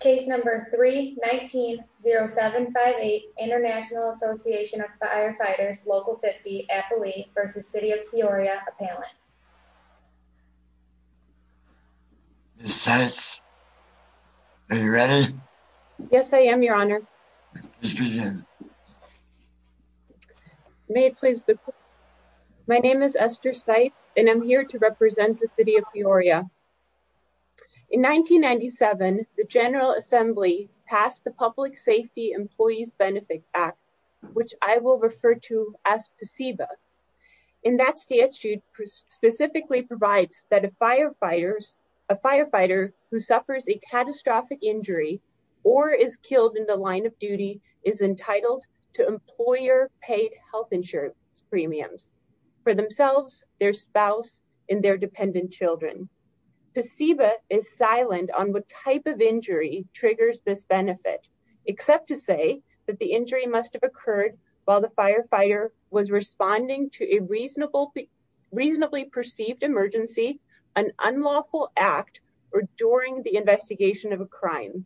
Case number 3-19-0758, International Association of Firefighters, Local 50, Appalachia v. City of Peoria, Appalachia. Ms. Seitz, are you ready? Yes, I am, Your Honor. Please begin. May it please the Court. My name is Esther Seitz and I'm here to represent the City of Peoria. In 1997, the General Assembly passed the Public Safety Employees Benefit Act, which I will refer to as PSEBA. In that statute, it specifically provides that a firefighter who suffers a catastrophic injury or is killed in the line of duty is entitled to employer-paid health insurance premiums for themselves, their spouse, and their dependent children. PSEBA is silent on what type of injury triggers this benefit, except to say that the injury must have occurred while the firefighter was responding to a reasonably perceived emergency, an unlawful act, or during the investigation of a crime.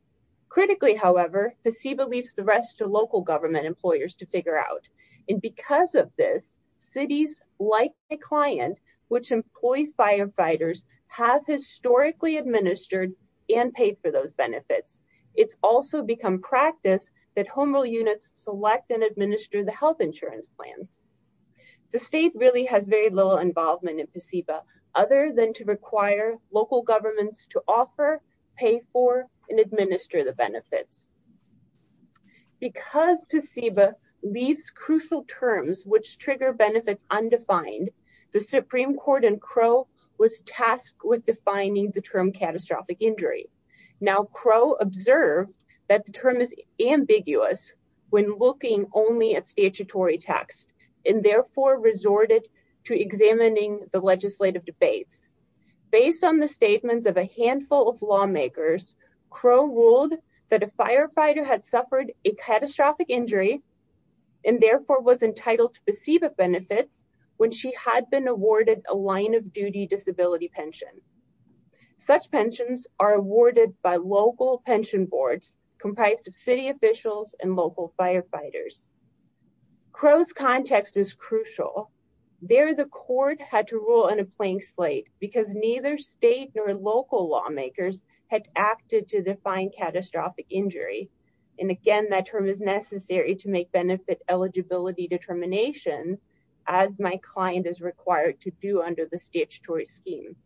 Critically, however, PSEBA leaves the rest to local government employers to figure out. And because of this, cities, like my client, which employs firefighters, have historically administered and paid for those benefits. It's also become practice that home rule units select and administer the health insurance plans. The state really has very little involvement in PSEBA, other than to require local governments to offer, pay for, and administer the benefits. Because PSEBA leaves crucial terms which trigger undefined, the Supreme Court in Crow was tasked with defining the term catastrophic injury. Now Crow observed that the term is ambiguous when looking only at statutory text, and therefore resorted to examining the legislative debates. Based on the statements of a handful of lawmakers, Crow ruled that a firefighter had suffered a catastrophic injury and therefore was entitled to PSEBA benefits when she had been awarded a line of duty disability pension. Such pensions are awarded by local pension boards comprised of city officials and local firefighters. Crow's context is crucial. There the court had to rule in a blank slate because neither state nor local lawmakers had acted to define catastrophic injury. And again, that term is as my client is required to do under the statutory scheme.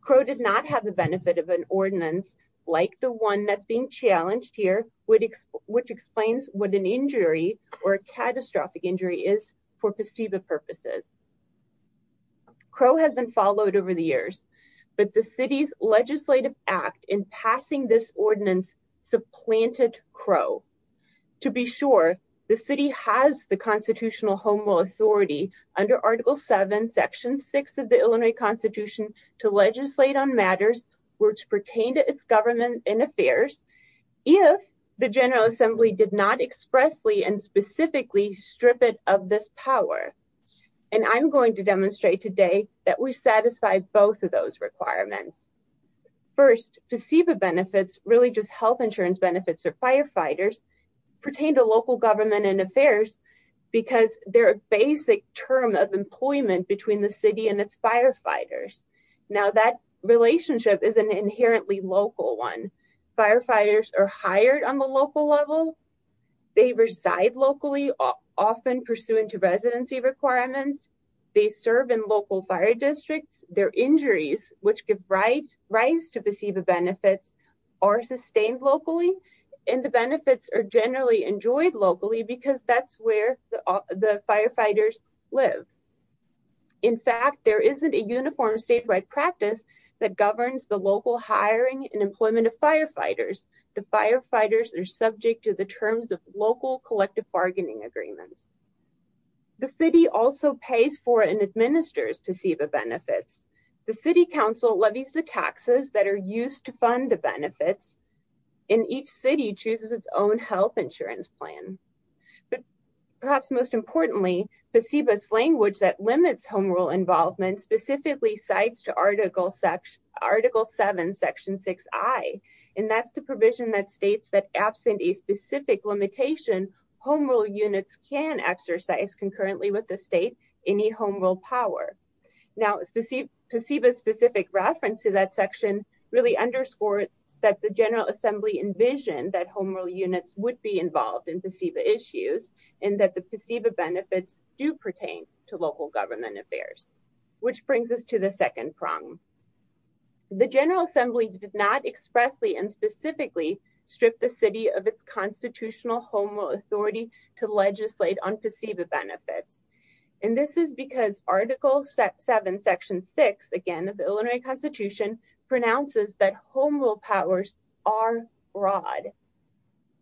Crow does not have the benefit of an ordinance like the one that's being challenged here, which explains what an injury or a catastrophic injury is for PSEBA purposes. Crow has been followed over the years, but the city's legislative act in passing this ordinance supplanted Crow. To be sure, the city has the constitutional home authority under Article 7, Section 6 of the Illinois Constitution to legislate on matters which pertain to its government and affairs if the General Assembly did not expressly and specifically strip it of this power. And I'm going to demonstrate today that we satisfy both of those requirements. First, PSEBA benefits, really just health insurance benefits for firefighters, pertain to local government and affairs because they're a basic term of employment between the city and its firefighters. Now that relationship is an inherently local one. Firefighters are hired on the local level. They reside locally, often pursuant to residency requirements. They serve in local fire districts. Their injuries, which give rise to PSEBA benefits, are sustained locally, and the benefits are generally enjoyed locally because that's where the firefighters live. In fact, there isn't a uniform statewide practice that governs the local hiring and employment of firefighters. The firefighters are subject to the terms of local collective bargaining agreements. The city also pays for and administers PSEBA benefits. The city council levies the taxes that are used to fund the benefits, and each city chooses its own health insurance plan. But perhaps most importantly, PSEBA's language that limits home rule involvement specifically cites to Article 7, Section 6i, and that's the provision that states that absent a specific limitation, home rule units can exercise concurrently with state any home rule power. Now, PSEBA's specific reference to that section really underscores that the General Assembly envisioned that home rule units would be involved in PSEBA issues, and that the PSEBA benefits do pertain to local government affairs, which brings us to the second prong. The General Assembly did not expressly and specifically strip the city of its constitutional home rule authority to legislate on PSEBA benefits, and this is because Article 7, Section 6, again of the Illinois Constitution, pronounces that home rule powers are broad.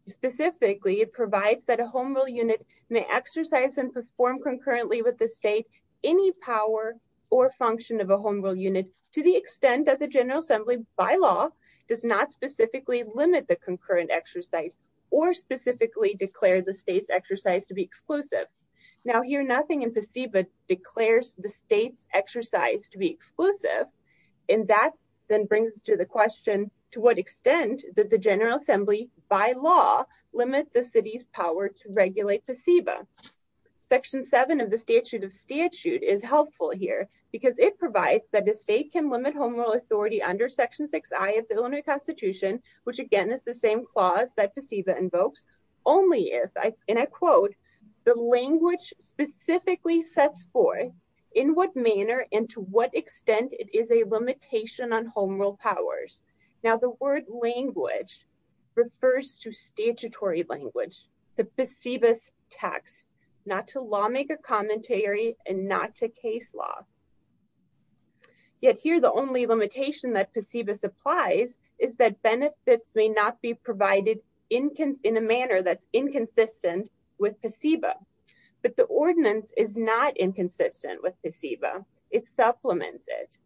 Specifically, it provides that a home rule unit may exercise and perform concurrently with the state any power or function of a home rule unit to the extent that the General Assembly, by law, does not limit the concurrent exercise or specifically declare the state's exercise to be exclusive. Now, here nothing in PSEBA declares the state's exercise to be exclusive, and that then brings us to the question, to what extent did the General Assembly, by law, limit the city's power to regulate PSEBA? Section 7 of the Statute of Statute is helpful here because it provides that a state can limit home rule authority under Section 6I of the Illinois Constitution, which again is the same clause that PSEBA invokes, only if, and I quote, the language specifically sets forth in what manner and to what extent it is a limitation on home rule powers. Now, the word language refers to statutory language, the PSEBA's text, not to lawmaker commentary and not to case law. Yet here the only limitation that PSEBA supplies is that benefits may not be provided in a manner that's inconsistent with PSEBA, but the ordinance is not inconsistent with PSEBA. It supplements it.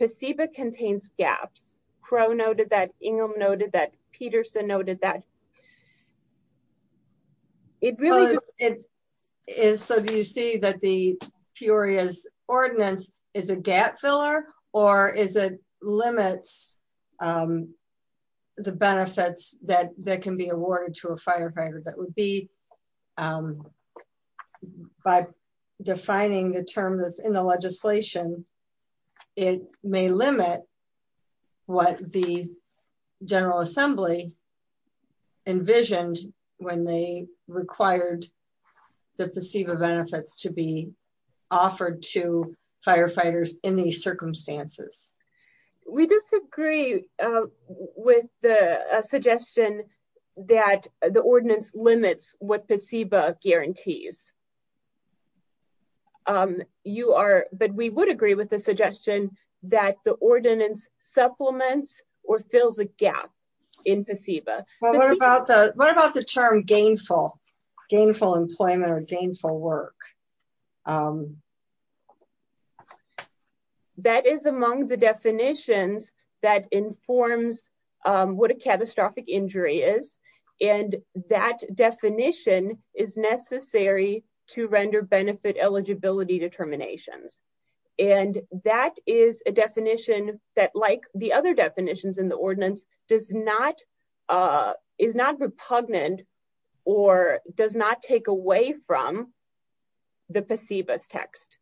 PSEBA contains gaps. Crowe noted that, Ingham noted that, Peterson noted that. It really is, so do you see that the Peoria's ordinance is a gap filler, or is it limits the benefits that can be awarded to a firefighter? That would be by defining the term that's in the legislation, it may limit what the General Assembly envisioned when they required the PSEBA benefits to be offered to firefighters in these circumstances. We disagree with the suggestion that the ordinance limits what PSEBA guarantees. You are, but we would agree with the suggestion that the ordinance supplements or fills a gap in PSEBA. What about the term gainful employment or gainful work? That is among the definitions that informs what a catastrophic injury is, and that definition is necessary to render benefit eligibility determinations, and that is a definition that, like the other definitions in the ordinance, is not repugnant or does not take away from the PSEBA's text.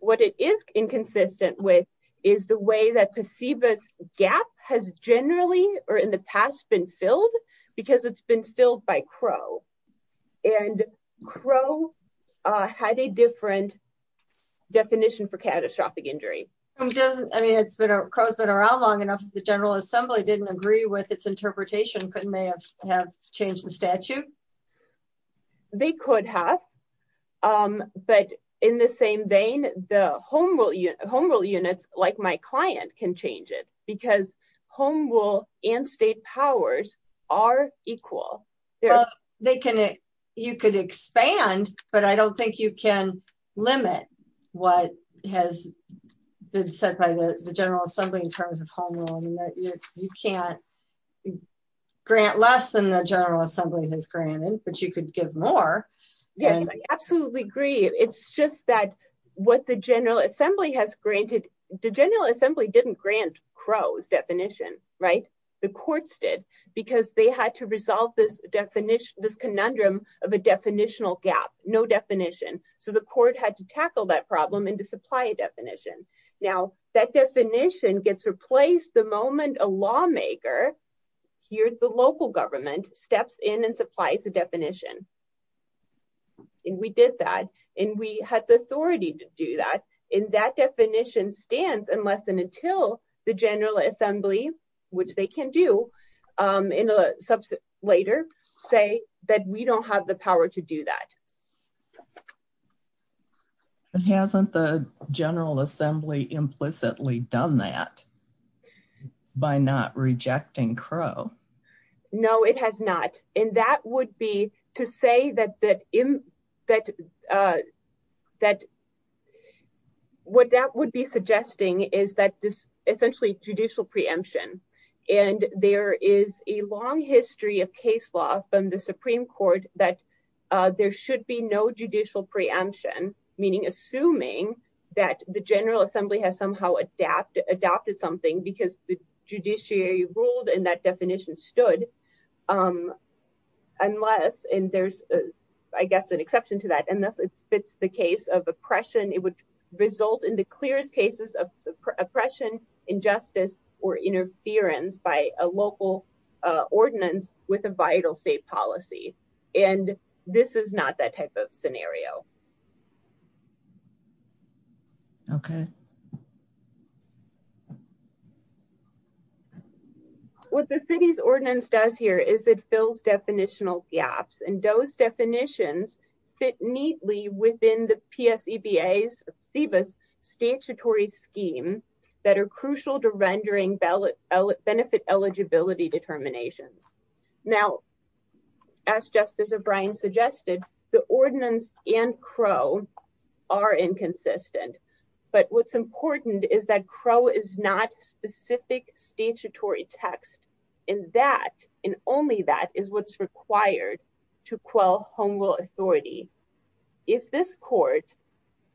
What it is inconsistent with is the way that PSEBA's gap has generally, or in the past, been filled because it's been filled by Crowe, and Crowe had a different definition for catastrophic injury. I mean, Crowe's been around long enough that the General Assembly didn't agree with its interpretation, couldn't they have changed the statute? They could have, but in the same vein, the home rule units, like my client, can change it because home rule and state powers are equal. Well, you could expand, but I don't think you can limit what has been said by the General Assembly in terms of home rule units. You can't grant less than the General Assembly has granted, but you could give more. Yes, I absolutely agree. It's just that what the General Assembly has granted, the General Assembly didn't grant Crowe's definition, right? The courts did because they had to resolve this conundrum of a definitional gap, no definition, so the court had to tackle that problem and to supply a definition. Now, that definition gets replaced the moment a lawmaker, here the local government, steps in and supplies the definition, and we did that, and we had the authority to do that, and that definition stands unless and until the General Assembly, which they can do in a subset later, say that we don't have the power to do that. But hasn't the General Assembly implicitly done that by not rejecting Crowe? No, it has not, and that would be to say that what that would be suggesting is that this is a long history of case law from the Supreme Court that there should be no judicial preemption, meaning assuming that the General Assembly has somehow adopted something because the judiciary ruled and that definition stood, unless, and there's, I guess, an exception to that, unless it fits the case of oppression, it would result in the clearest cases of oppression, injustice, or interference by a local ordinance with a vital state policy, and this is not that type of scenario. Okay. What the city's ordinance does here is it fills definitional gaps, and those definitions fit neatly within the PSEBA's statutory scheme that are crucial to rendering benefit eligibility determinations. Now, as Justice O'Brien suggested, the ordinance and Crowe are inconsistent, but what's important is that Crowe is not statutory text, and that, and only that is what's required to quell home rule authority. If this court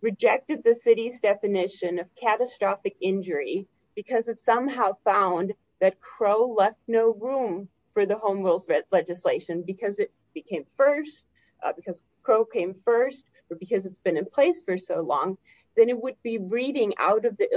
rejected the city's definition of catastrophic injury because it somehow found that Crowe left no room for the home rules legislation because it became first, because Crowe came first, or because it's been in place for so long, then it would be reading out of the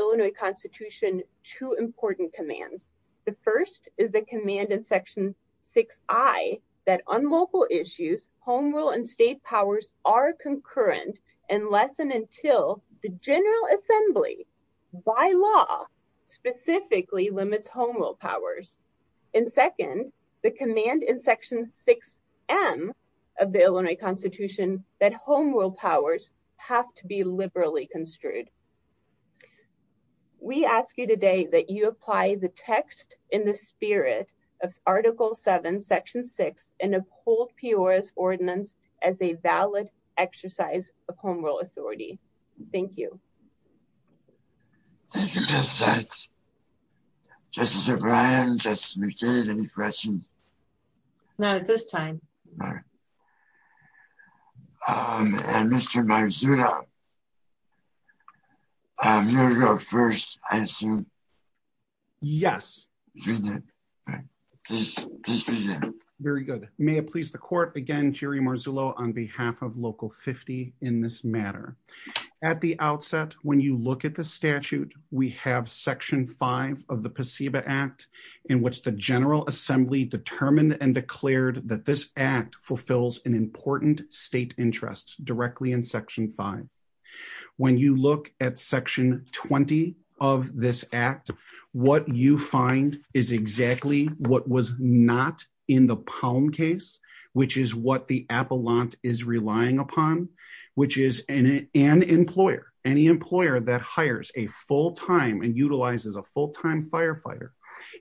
commands. The first is the command in section 6I that on local issues, home rule and state powers are concurrent unless and until the General Assembly, by law, specifically limits home rule powers. And second, the command in section 6M of the Illinois Constitution that home rule powers have to be liberally construed. We ask you today that you apply the text in the spirit of article 7, section 6, and uphold Peora's ordinance as a valid exercise of home rule authority. Thank you. Thank you, Justice Sykes. Justice O'Brien, Justice McKay, any questions? Not at this time. And Mr. Marzullo, you're the first answer. Yes. Very good. May it please the court, again, Jury Marzullo on behalf of Local 50 in this matter. At the outset, when you look at the statute, we have section 5 of the PACEBA Act in which the directly in section 5. When you look at section 20 of this act, what you find is exactly what was not in the Palm case, which is what the Appellant is relying upon, which is an employer, any employer that hires a full-time and utilizes a full-time firefighter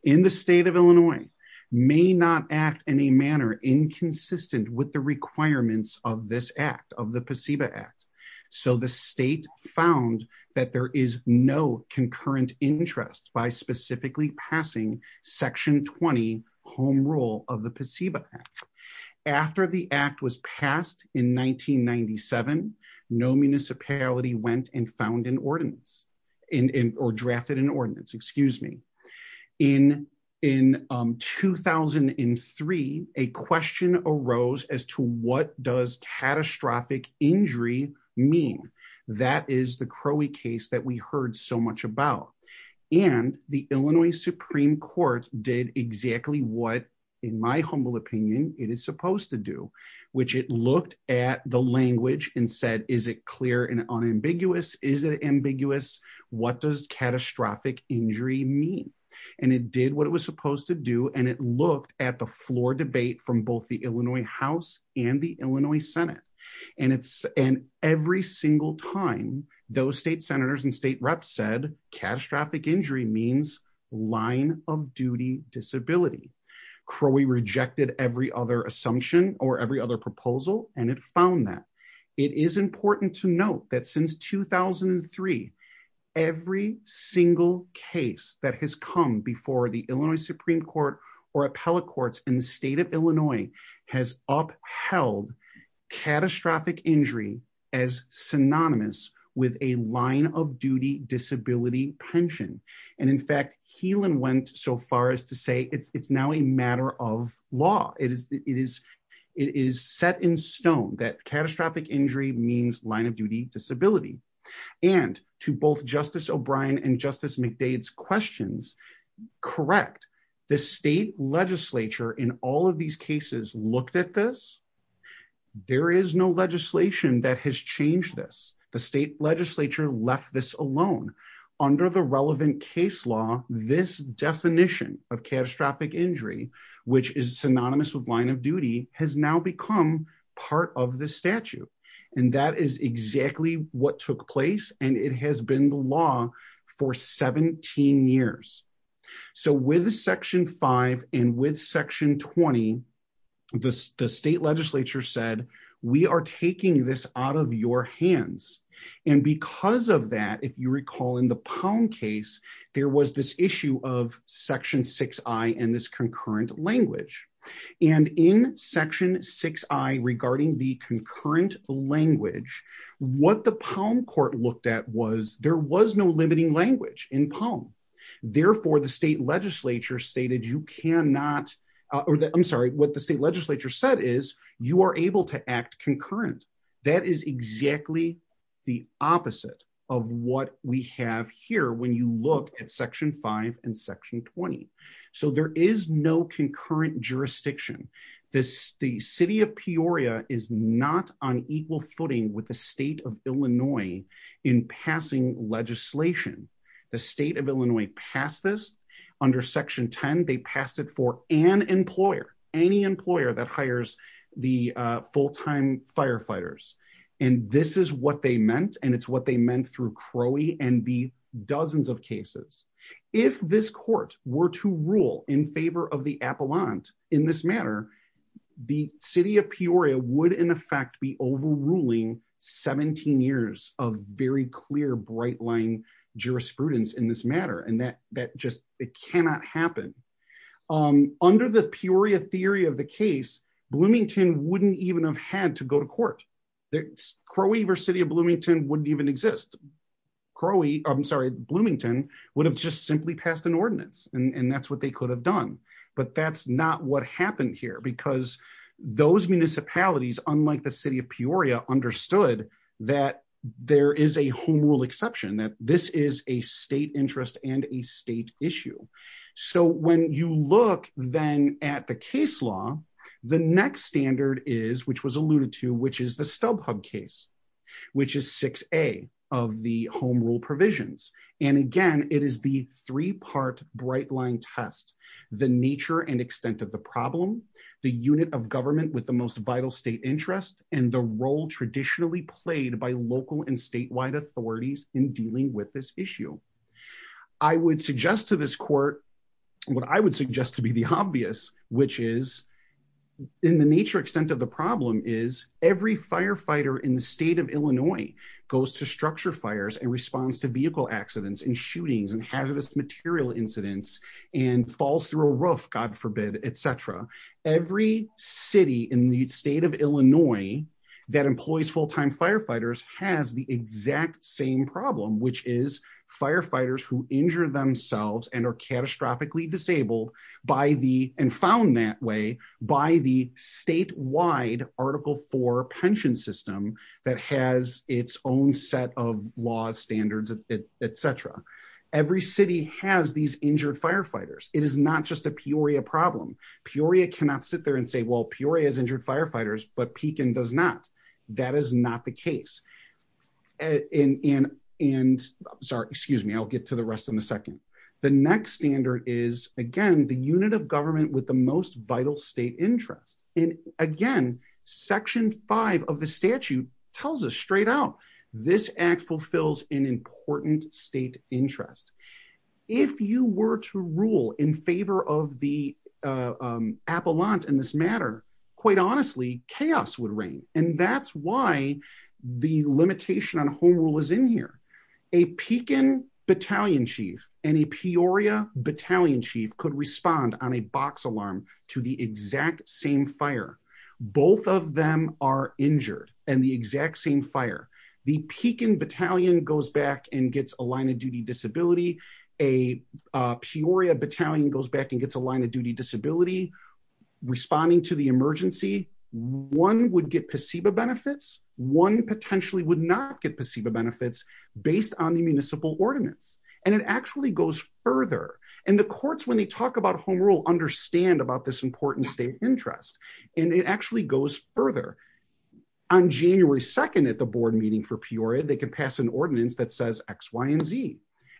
in the state of Illinois may not act in a manner inconsistent with the requirements of this act, of the PACEBA Act. So the state found that there is no concurrent interest by specifically passing section 20 home rule of the PACEBA Act. After the act was passed in 1997, no municipality went and found an ordinance or drafted an ordinance, excuse me. In 2003, a question arose as to what does catastrophic injury mean? That is the Crowey case that we heard so much about. And the Illinois Supreme Court did exactly what, in my humble opinion, it is supposed to do, which it looked at the language and said, is it clear and unambiguous? Is it ambiguous? What does catastrophic injury mean? And it did what it was supposed to do, and it looked at the floor debate from both the Illinois House and the Illinois Senate. And every single time, those state senators and state reps said, catastrophic injury means line of duty disability. Crowey rejected every other assumption or every other proposal, and it found that. It is important to note that since 2003, every single case that has come before the Illinois Supreme Court or appellate courts in the state of Illinois has upheld catastrophic injury as synonymous with a line of duty disability pension. And in fact, Healan went so far as to say it's now a matter of law. It is set in stone that catastrophic injury means line of duty disability. And to both Justice O'Brien and Justice McDade's questions, correct. The state legislature in all of these cases looked at this. There is no legislation that has changed this. The state legislature left this alone. Under the relevant case law, this definition of catastrophic injury, which is synonymous with line of duty, has now become part of the statute. And that is exactly what took place, and it has been the law for 17 years. So with section five and with section 20, the state legislature said, we are taking this out of your hands. And because of that, if you recall in the Palm case, there was this issue of section six I and this concurrent language. And in section six I in Palm. Therefore, the state legislature stated you cannot, I'm sorry, what the state legislature said is you are able to act concurrent. That is exactly the opposite of what we have here when you look at section five and section 20. So there is no concurrent jurisdiction. The city of Peoria is not on equal footing with the state of Illinois in passing legislation. The state of Illinois passed this under section 10. They passed it for an employer, any employer that hires the full-time firefighters. And this is what they meant, and it's what they meant through Crowley and the dozens of cases. If this court were to rule in favor of the appellant in this matter, the city of Peoria would in effect be overruling 17 years of very clear bright line jurisprudence in this matter. And that just, it cannot happen. Under the Peoria theory of the case, Bloomington wouldn't even have had to go to court. Crowley versus city of Bloomington wouldn't even exist. Crowley, I'm sorry, Bloomington would have just simply passed an ordinance and that's what they could have done. But that's not what happened here because those municipalities, unlike the city of Peoria understood that there is a home rule exception, that this is a state interest and a state issue. So when you look then at the case law, the next standard is, which was alluded to, which is the StubHub case, which is 6A of the home rule provisions. And again, it is the three-part bright line test, the nature and extent of the problem, the unit of government with the most vital state interest, and the role traditionally played by local and statewide authorities in dealing with this issue. I would suggest to this court, what I would suggest to be the obvious, which is in the nature extent of the problem is every firefighter in the state of Illinois goes to structure fires and responds to vehicle accidents and shootings and hazardous material incidents and falls through a roof, God forbid, etc. Every city in the state of Illinois that employs full-time firefighters has the exact same problem, which is firefighters who injure themselves and are catastrophically disabled by the, and found that way, by the statewide Article IV pension system that has its own set of laws, standards, etc. Every city has these injured firefighters. It is not just a Peoria problem. Peoria cannot sit there and say, well, Peoria has injured firefighters, but Pekin does not. That is not the case. And sorry, excuse me, I'll get to the rest in a second. The next standard is, again, the unit of government with the most vital state interest. And again, Section V of the statute tells us straight out, this act fulfills an important state interest. If you were to rule in favor of the appellant in this matter, quite honestly, chaos would reign. And that's why the limitation on a box alarm to the exact same fire, both of them are injured and the exact same fire. The Pekin battalion goes back and gets a line of duty disability. A Peoria battalion goes back and gets a line of duty disability. Responding to the emergency, one would get placebo benefits. One potentially would not get placebo benefits based on the municipal ordinance. And it actually goes further. And the courts, when they talk about home rule, understand about this important state interest. And it actually goes further. On January 2nd at the board meeting for Peoria, they could pass an ordinance that says X, Y, and Z.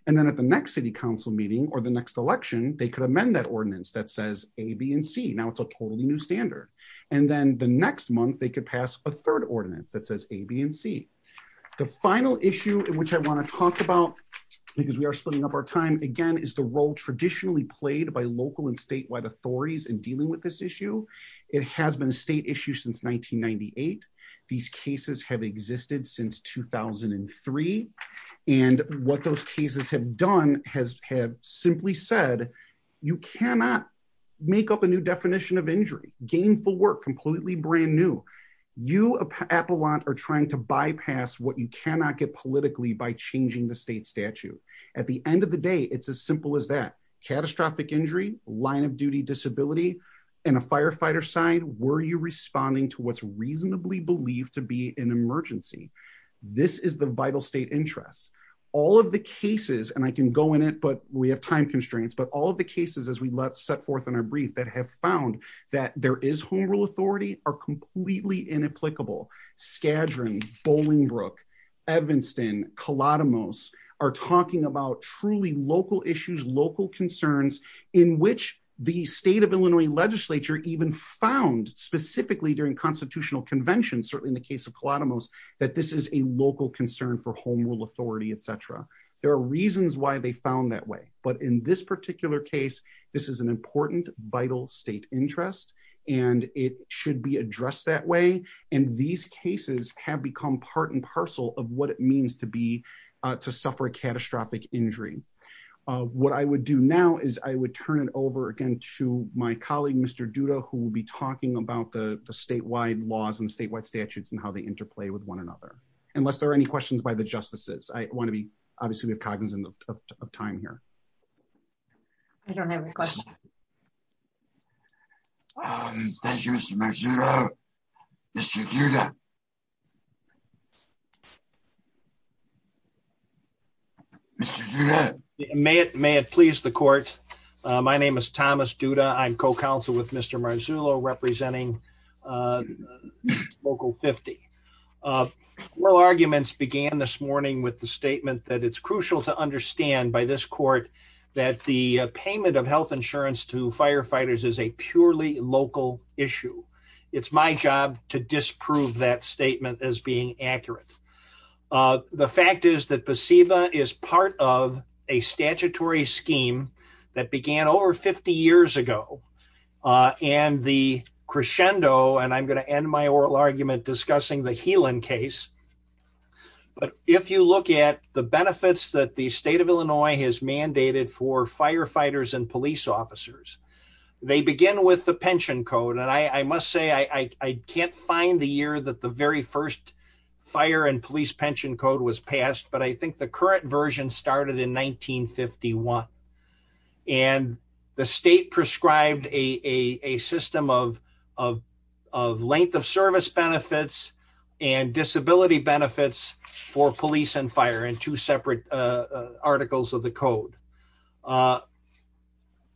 And then at the next city council meeting or the next election, they could amend that ordinance that says A, B, and C. Now it's a totally new standard. And then the next month they could pass a third ordinance that says A, B, and C. The final issue in which I want to talk about, because we are splitting up our time again, is the role traditionally played by local and statewide authorities in dealing with this issue. It has been a state issue since 1998. These cases have existed since 2003. And what those cases have done has had simply said, you cannot make up a new definition of injury, gainful work, completely brand new. You, Appalachia, are trying to bypass what you cannot get politically by changing the state statute. At the end of the day, it's as simple as that. Catastrophic injury, line of duty disability, and a firefighter sign, were you responding to what's reasonably believed to be an emergency? This is the vital state interest. All of the cases, and I can go in it, but we have time constraints, but all of the cases, as we set forth in our brief, that have found that there is home rule authority are completely inapplicable. Skadron, Bolingbrook, Evanston, Klatomos are talking about truly local issues, local concerns, in which the state of Illinois legislature even found specifically during constitutional conventions, certainly in the case of Klatomos, that this is a local concern for home rule authority, etc. There are reasons why they found that way. But in this particular case, this is an important vital state interest, and it should be addressed that way. These cases have become part and parcel of what it means to suffer a catastrophic injury. What I would do now is I would turn it over again to my colleague, Mr. Duda, who will be talking about the statewide laws and statewide statutes and how they interplay with one another. Unless there are any questions by the justices, I want to be obviously cognizant of time here. I don't have a question. Thank you, Mr. Marzullo. Mr. Duda. Mr. Duda. May it please the court. My name is Thomas Duda. I'm co-counsel with Mr. Marzullo representing Local 50. Our arguments began this morning with the statement that it's crucial to understand by this court that the payment of health insurance to firefighters is a purely local issue. It's my job to disprove that statement as being accurate. The fact is that scheme that began over 50 years ago and the crescendo, and I'm going to end my oral argument discussing the Helan case, but if you look at the benefits that the state of Illinois has mandated for firefighters and police officers, they begin with the pension code. I must say I can't find the year that the very first fire and police pension code was passed, but I think the current version started in 1951. The state prescribed a system of length of service benefits and disability benefits for police and fire in two separate articles of the code.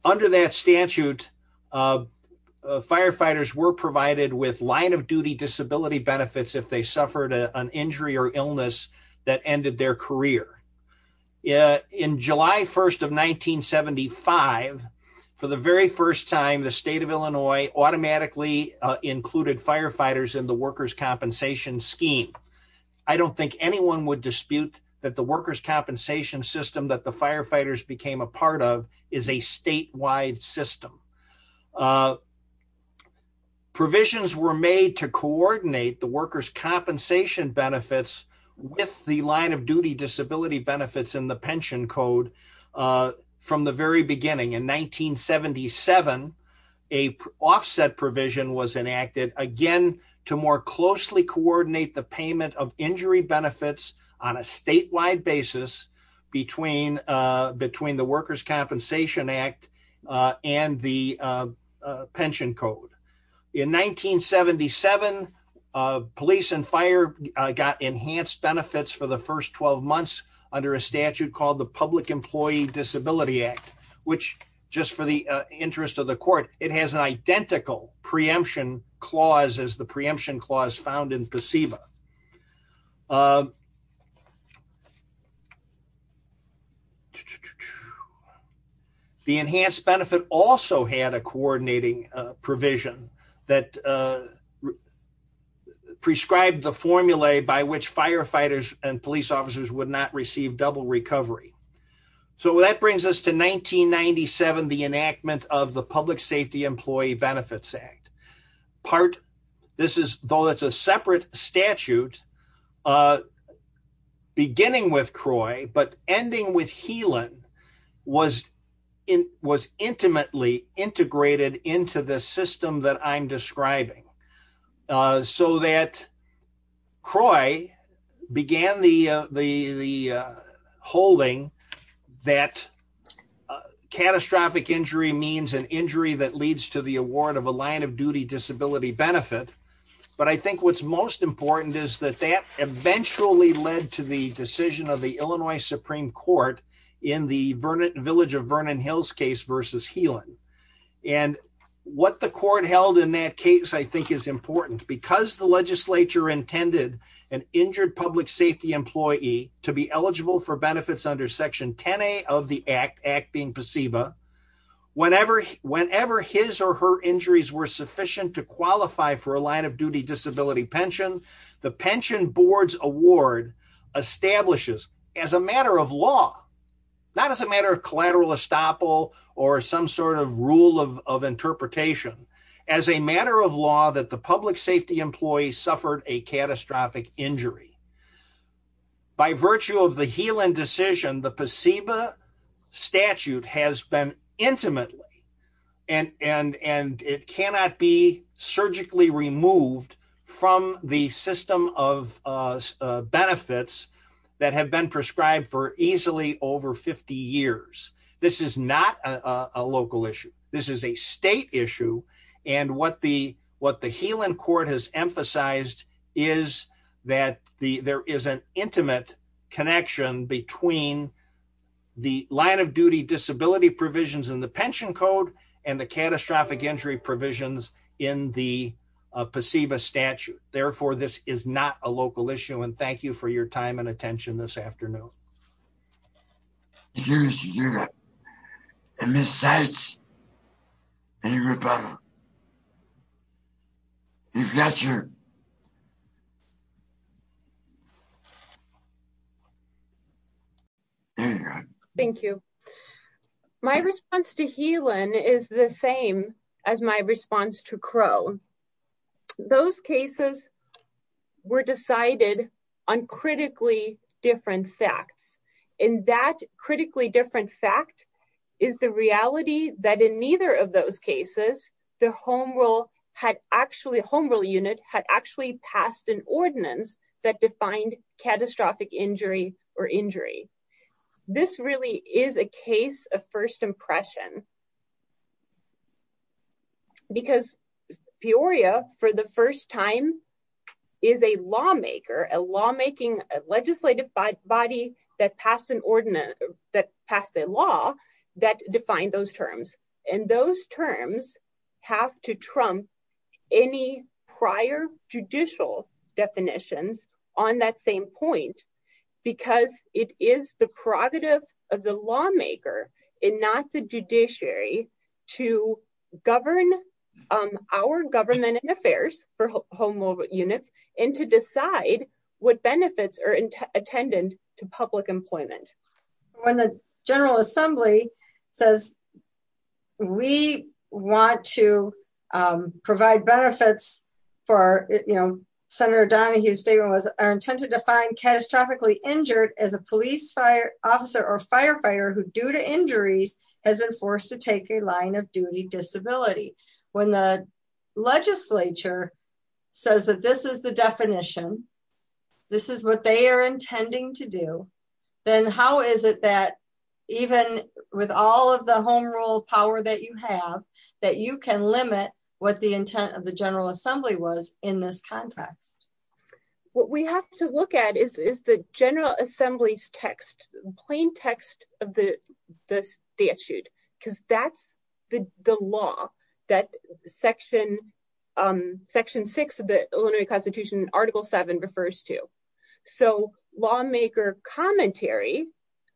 Under that statute, firefighters were provided with line of duty disability benefits if they suffered an injury or illness that ended their career. In July 1st of 1975, for the very first time, the state of Illinois automatically included firefighters in the workers' compensation scheme. I don't think anyone would dispute that the workers' compensation system that the firefighters became a part of is a statewide system. Provisions were made to coordinate the workers' compensation benefits with the line of duty disability benefits in the pension code from the very beginning. In 1977, a offset provision was enacted, again, to more closely coordinate the payment of injury benefits on a statewide basis between the workers' compensation act and the pension code. In 1977, police and fire got enhanced benefits for the first 12 months under a statute called the Public Employee Disability Act, which just for the interest of the court, it has an identical preemption clause as the preemption clause found in PSEBA. The enhanced benefit also had a coordinating provision that prescribed the formulae by which firefighters and police officers would not receive double recovery. So that brings us to 1997, the enactment of the Public Safety Employee Benefits Act. Though it's a separate statute, beginning with CROI but ending with HELEN was intimately integrated into the system that I'm an injury that leads to the award of a line of duty disability benefit. But I think what's most important is that that eventually led to the decision of the Illinois Supreme Court in the Village of Vernon Hills case versus HELEN. And what the court held in that case I think is important. Because the legislature intended an injured public safety employee to be eligible for benefits under section 10A of the act, being PSEBA. Whenever his or her injuries were sufficient to qualify for a line of duty disability pension, the pension board's award establishes as a matter of law, not as a matter of collateral estoppel or some sort of rule of interpretation, as a matter of law that the public safety employee suffered a catastrophic injury. By virtue of the HELEN decision, the PSEBA statute has been intimately and it cannot be surgically removed from the system of benefits that have been prescribed for easily over 50 years. This is not a local issue. This is a state issue. And what the HELEN court has emphasized is that there is an intimate connection between the line of duty disability provisions in the pension code and the catastrophic injury provisions in the PSEBA statute. Therefore, this is not a local issue. And thank you for your time and attention this afternoon. Thank you. My response to HELEN is the same as my response to Crow. Those cases were decided on critically different facts. And that critically different fact is the reality that in neither of those cases, the home rule had actually home rule unit had actually passed an ordinance that defined catastrophic injury or injury. This really is a case of first impression. Because Peoria, for the first time, is a lawmaker, a lawmaking legislative body that passed an ordinance that passed a law that defined those terms. And those terms have to trump any prior judicial definitions on that same point, because it is the prerogative of the lawmaker and not the judiciary to govern our government and affairs for home rule units and to decide what benefits are intended to public employment. When the General Assembly says we want to provide benefits for, you know, Senator Donahue's statement was our intent to define catastrophically injured as a to take a line of duty disability. When the legislature says that this is the definition, this is what they are intending to do, then how is it that even with all of the home rule power that you have, that you can limit what the intent of the General Assembly was in this context? What we have to look at is the General Assembly's text, plain text of the statute, because that's the law that Section 6 of the Illinois Constitution, Article 7, refers to. So lawmaker commentary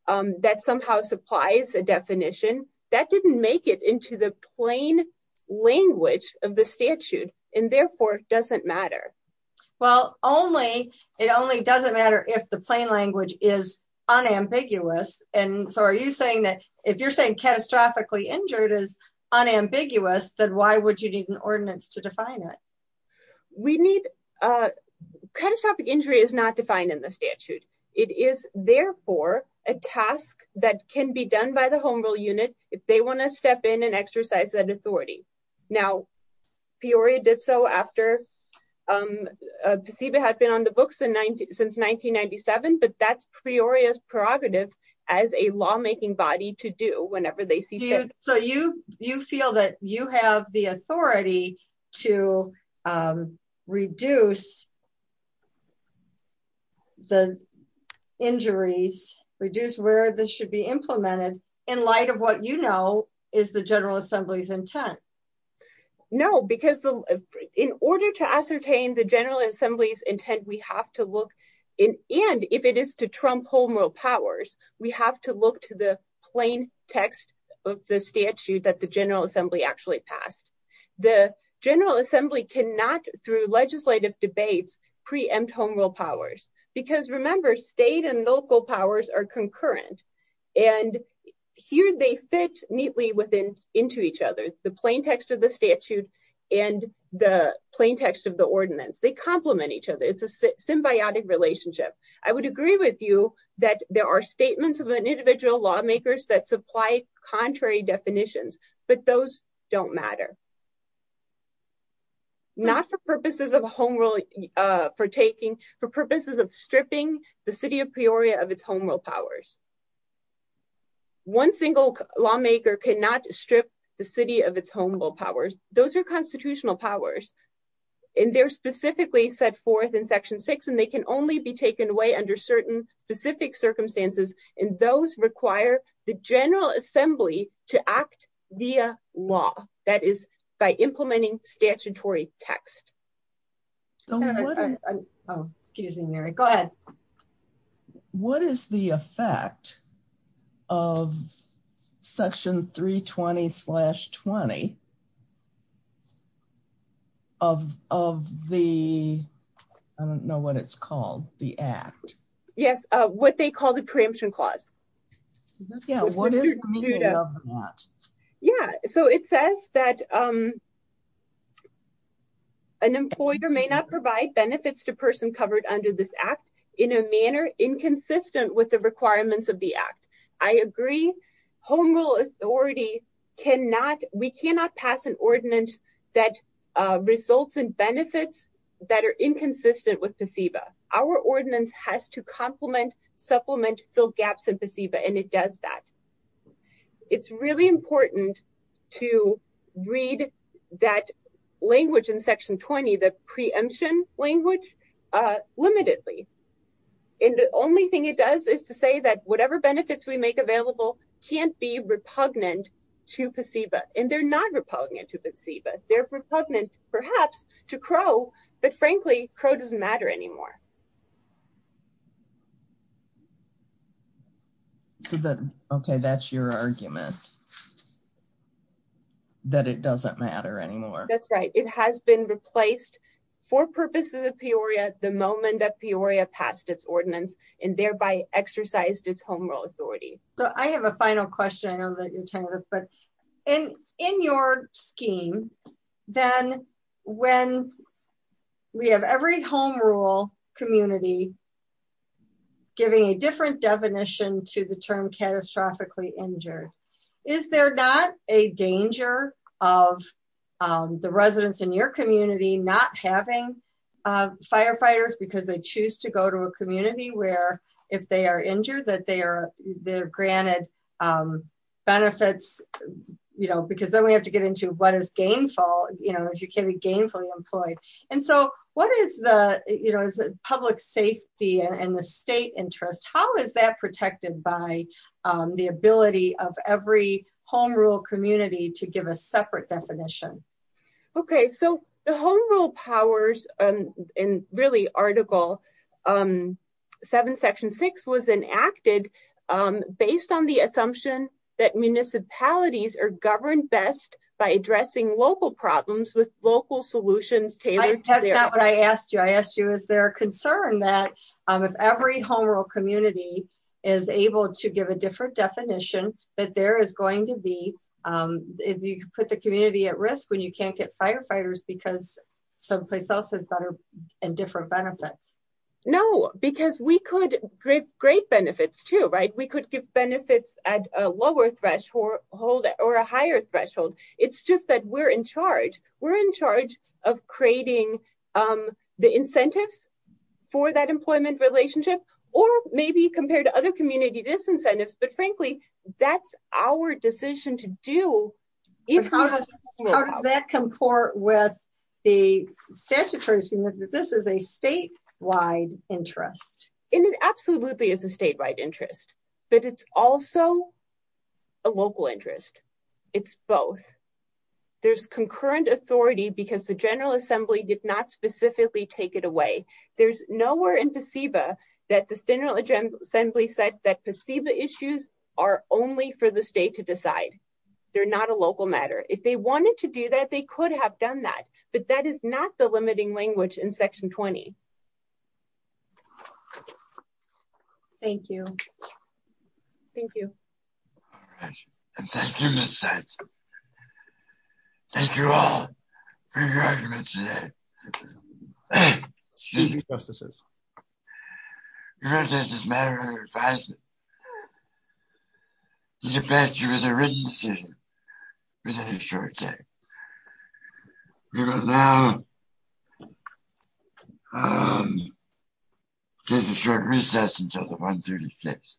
that somehow supplies a definition, that didn't make it into the plain language of the statute, and therefore doesn't matter. Well, it only doesn't matter if the plain language is unambiguous. And so are you saying that if you're saying catastrophically injured is unambiguous, then why would you need an ordinance to define it? Catastrophic injury is not defined in the statute. It is therefore a task that can be done by the authority. Now, Peoria did so after, Pasiba had been on the books since 1997, but that's Peoria's prerogative as a lawmaking body to do whenever they see fit. So you feel that you have the authority to reduce the injuries, reduce where this should be implemented, in light of what you know is the General Assembly's intent? No, because in order to ascertain the General Assembly's intent, we have to look in, and if it is to trump home rule powers, we have to look to the plain text of the statute that the General Assembly actually passed. The General Assembly cannot, through legislative debates, preempt home rule powers. Because remember, state and local powers are concurrent, and here they fit neatly within, into each other. The plain text of the statute and the plain text of the ordinance, they complement each other. It's a symbiotic relationship. I would agree with you that there are statements of an individual lawmakers that supply contrary definitions, but those don't matter. Not for purposes of home rule, for taking, for purposes of stripping the city of Peoria of its home rule powers. One single lawmaker cannot strip the city of its home rule powers. Those are constitutional powers, and they're specifically set forth in Section 6, and they can only be taken away under certain specific circumstances, and those require the General Assembly to act via law, that is, by implementing statutory text. So what is, oh, excuse me, Mary, go ahead. What is the effect of Section 320 slash 20 of, of the, I don't know what it's called, the Act? Yes, what they call the Preemption Clause. Yeah, what is the meaning of that? Yeah, so it says that, um, an employer may not provide benefits to person covered under this Act in a manner inconsistent with the requirements of the Act. I agree, home rule authority cannot, we cannot pass an ordinance that results in benefits that are inconsistent with PSEBA. Our ordinance has to complement, supplement, fill gaps in PSEBA, and it does that. It's really important to read that language in Section 20, the preemption language, uh, limitedly, and the only thing it does is to say that whatever benefits we make available can't be repugnant to PSEBA, and they're not repugnant to PSEBA. They're repugnant, perhaps, to CRO, but frankly, CRO doesn't matter anymore. So the, okay, that's your argument, that it doesn't matter anymore. That's right. It has been replaced for purposes of Peoria the moment that Peoria passed its ordinance and thereby exercised its home rule authority. So I have a final question. I know that you're telling us, but in, in your scheme, then when we have every home community giving a different definition to the term catastrophically injured, is there not a danger of, um, the residents in your community not having, uh, firefighters because they choose to go to a community where if they are injured, that they are, they're granted, um, benefits, you know, because then we have to get into what is gainful, you know, if you can be employed. And so what is the, you know, public safety and the state interest, how is that protected by, um, the ability of every home rule community to give a separate definition? Okay. So the home rule powers, um, and really article, um, seven section six was enacted, um, based on the assumption that municipalities are governed best by addressing local problems with local solutions. That's not what I asked you. I asked you, is there a concern that, um, if every home rule community is able to give a different definition that there is going to be, um, if you could put the community at risk when you can't get firefighters, because someplace else has better and different benefits. No, because we could great, great benefits too, right? We could give benefits at a lower threshold or a higher threshold. It's just that we're in charge of creating, um, the incentives for that employment relationship, or maybe compared to other community disincentives, but frankly, that's our decision to do. How does that come forward with the statute, this is a statewide interest. And it absolutely is a statewide interest, but it's also a local interest. It's both there's concurrent authority because the general assembly did not specifically take it away. There's nowhere in the SIBA that the general assembly said that the SIBA issues are only for the state to decide. They're not a local matter. If they wanted to do that, they could have done that, but that is not the limiting language in section 20. Okay. Thank you. Thank you. All right. And thank you, Ms. Seitz. Thank you all for your argument today. Your argument is a matter of advisement. You get back to you with a written decision within a short time. We will now, um, take a short recess until the 136th.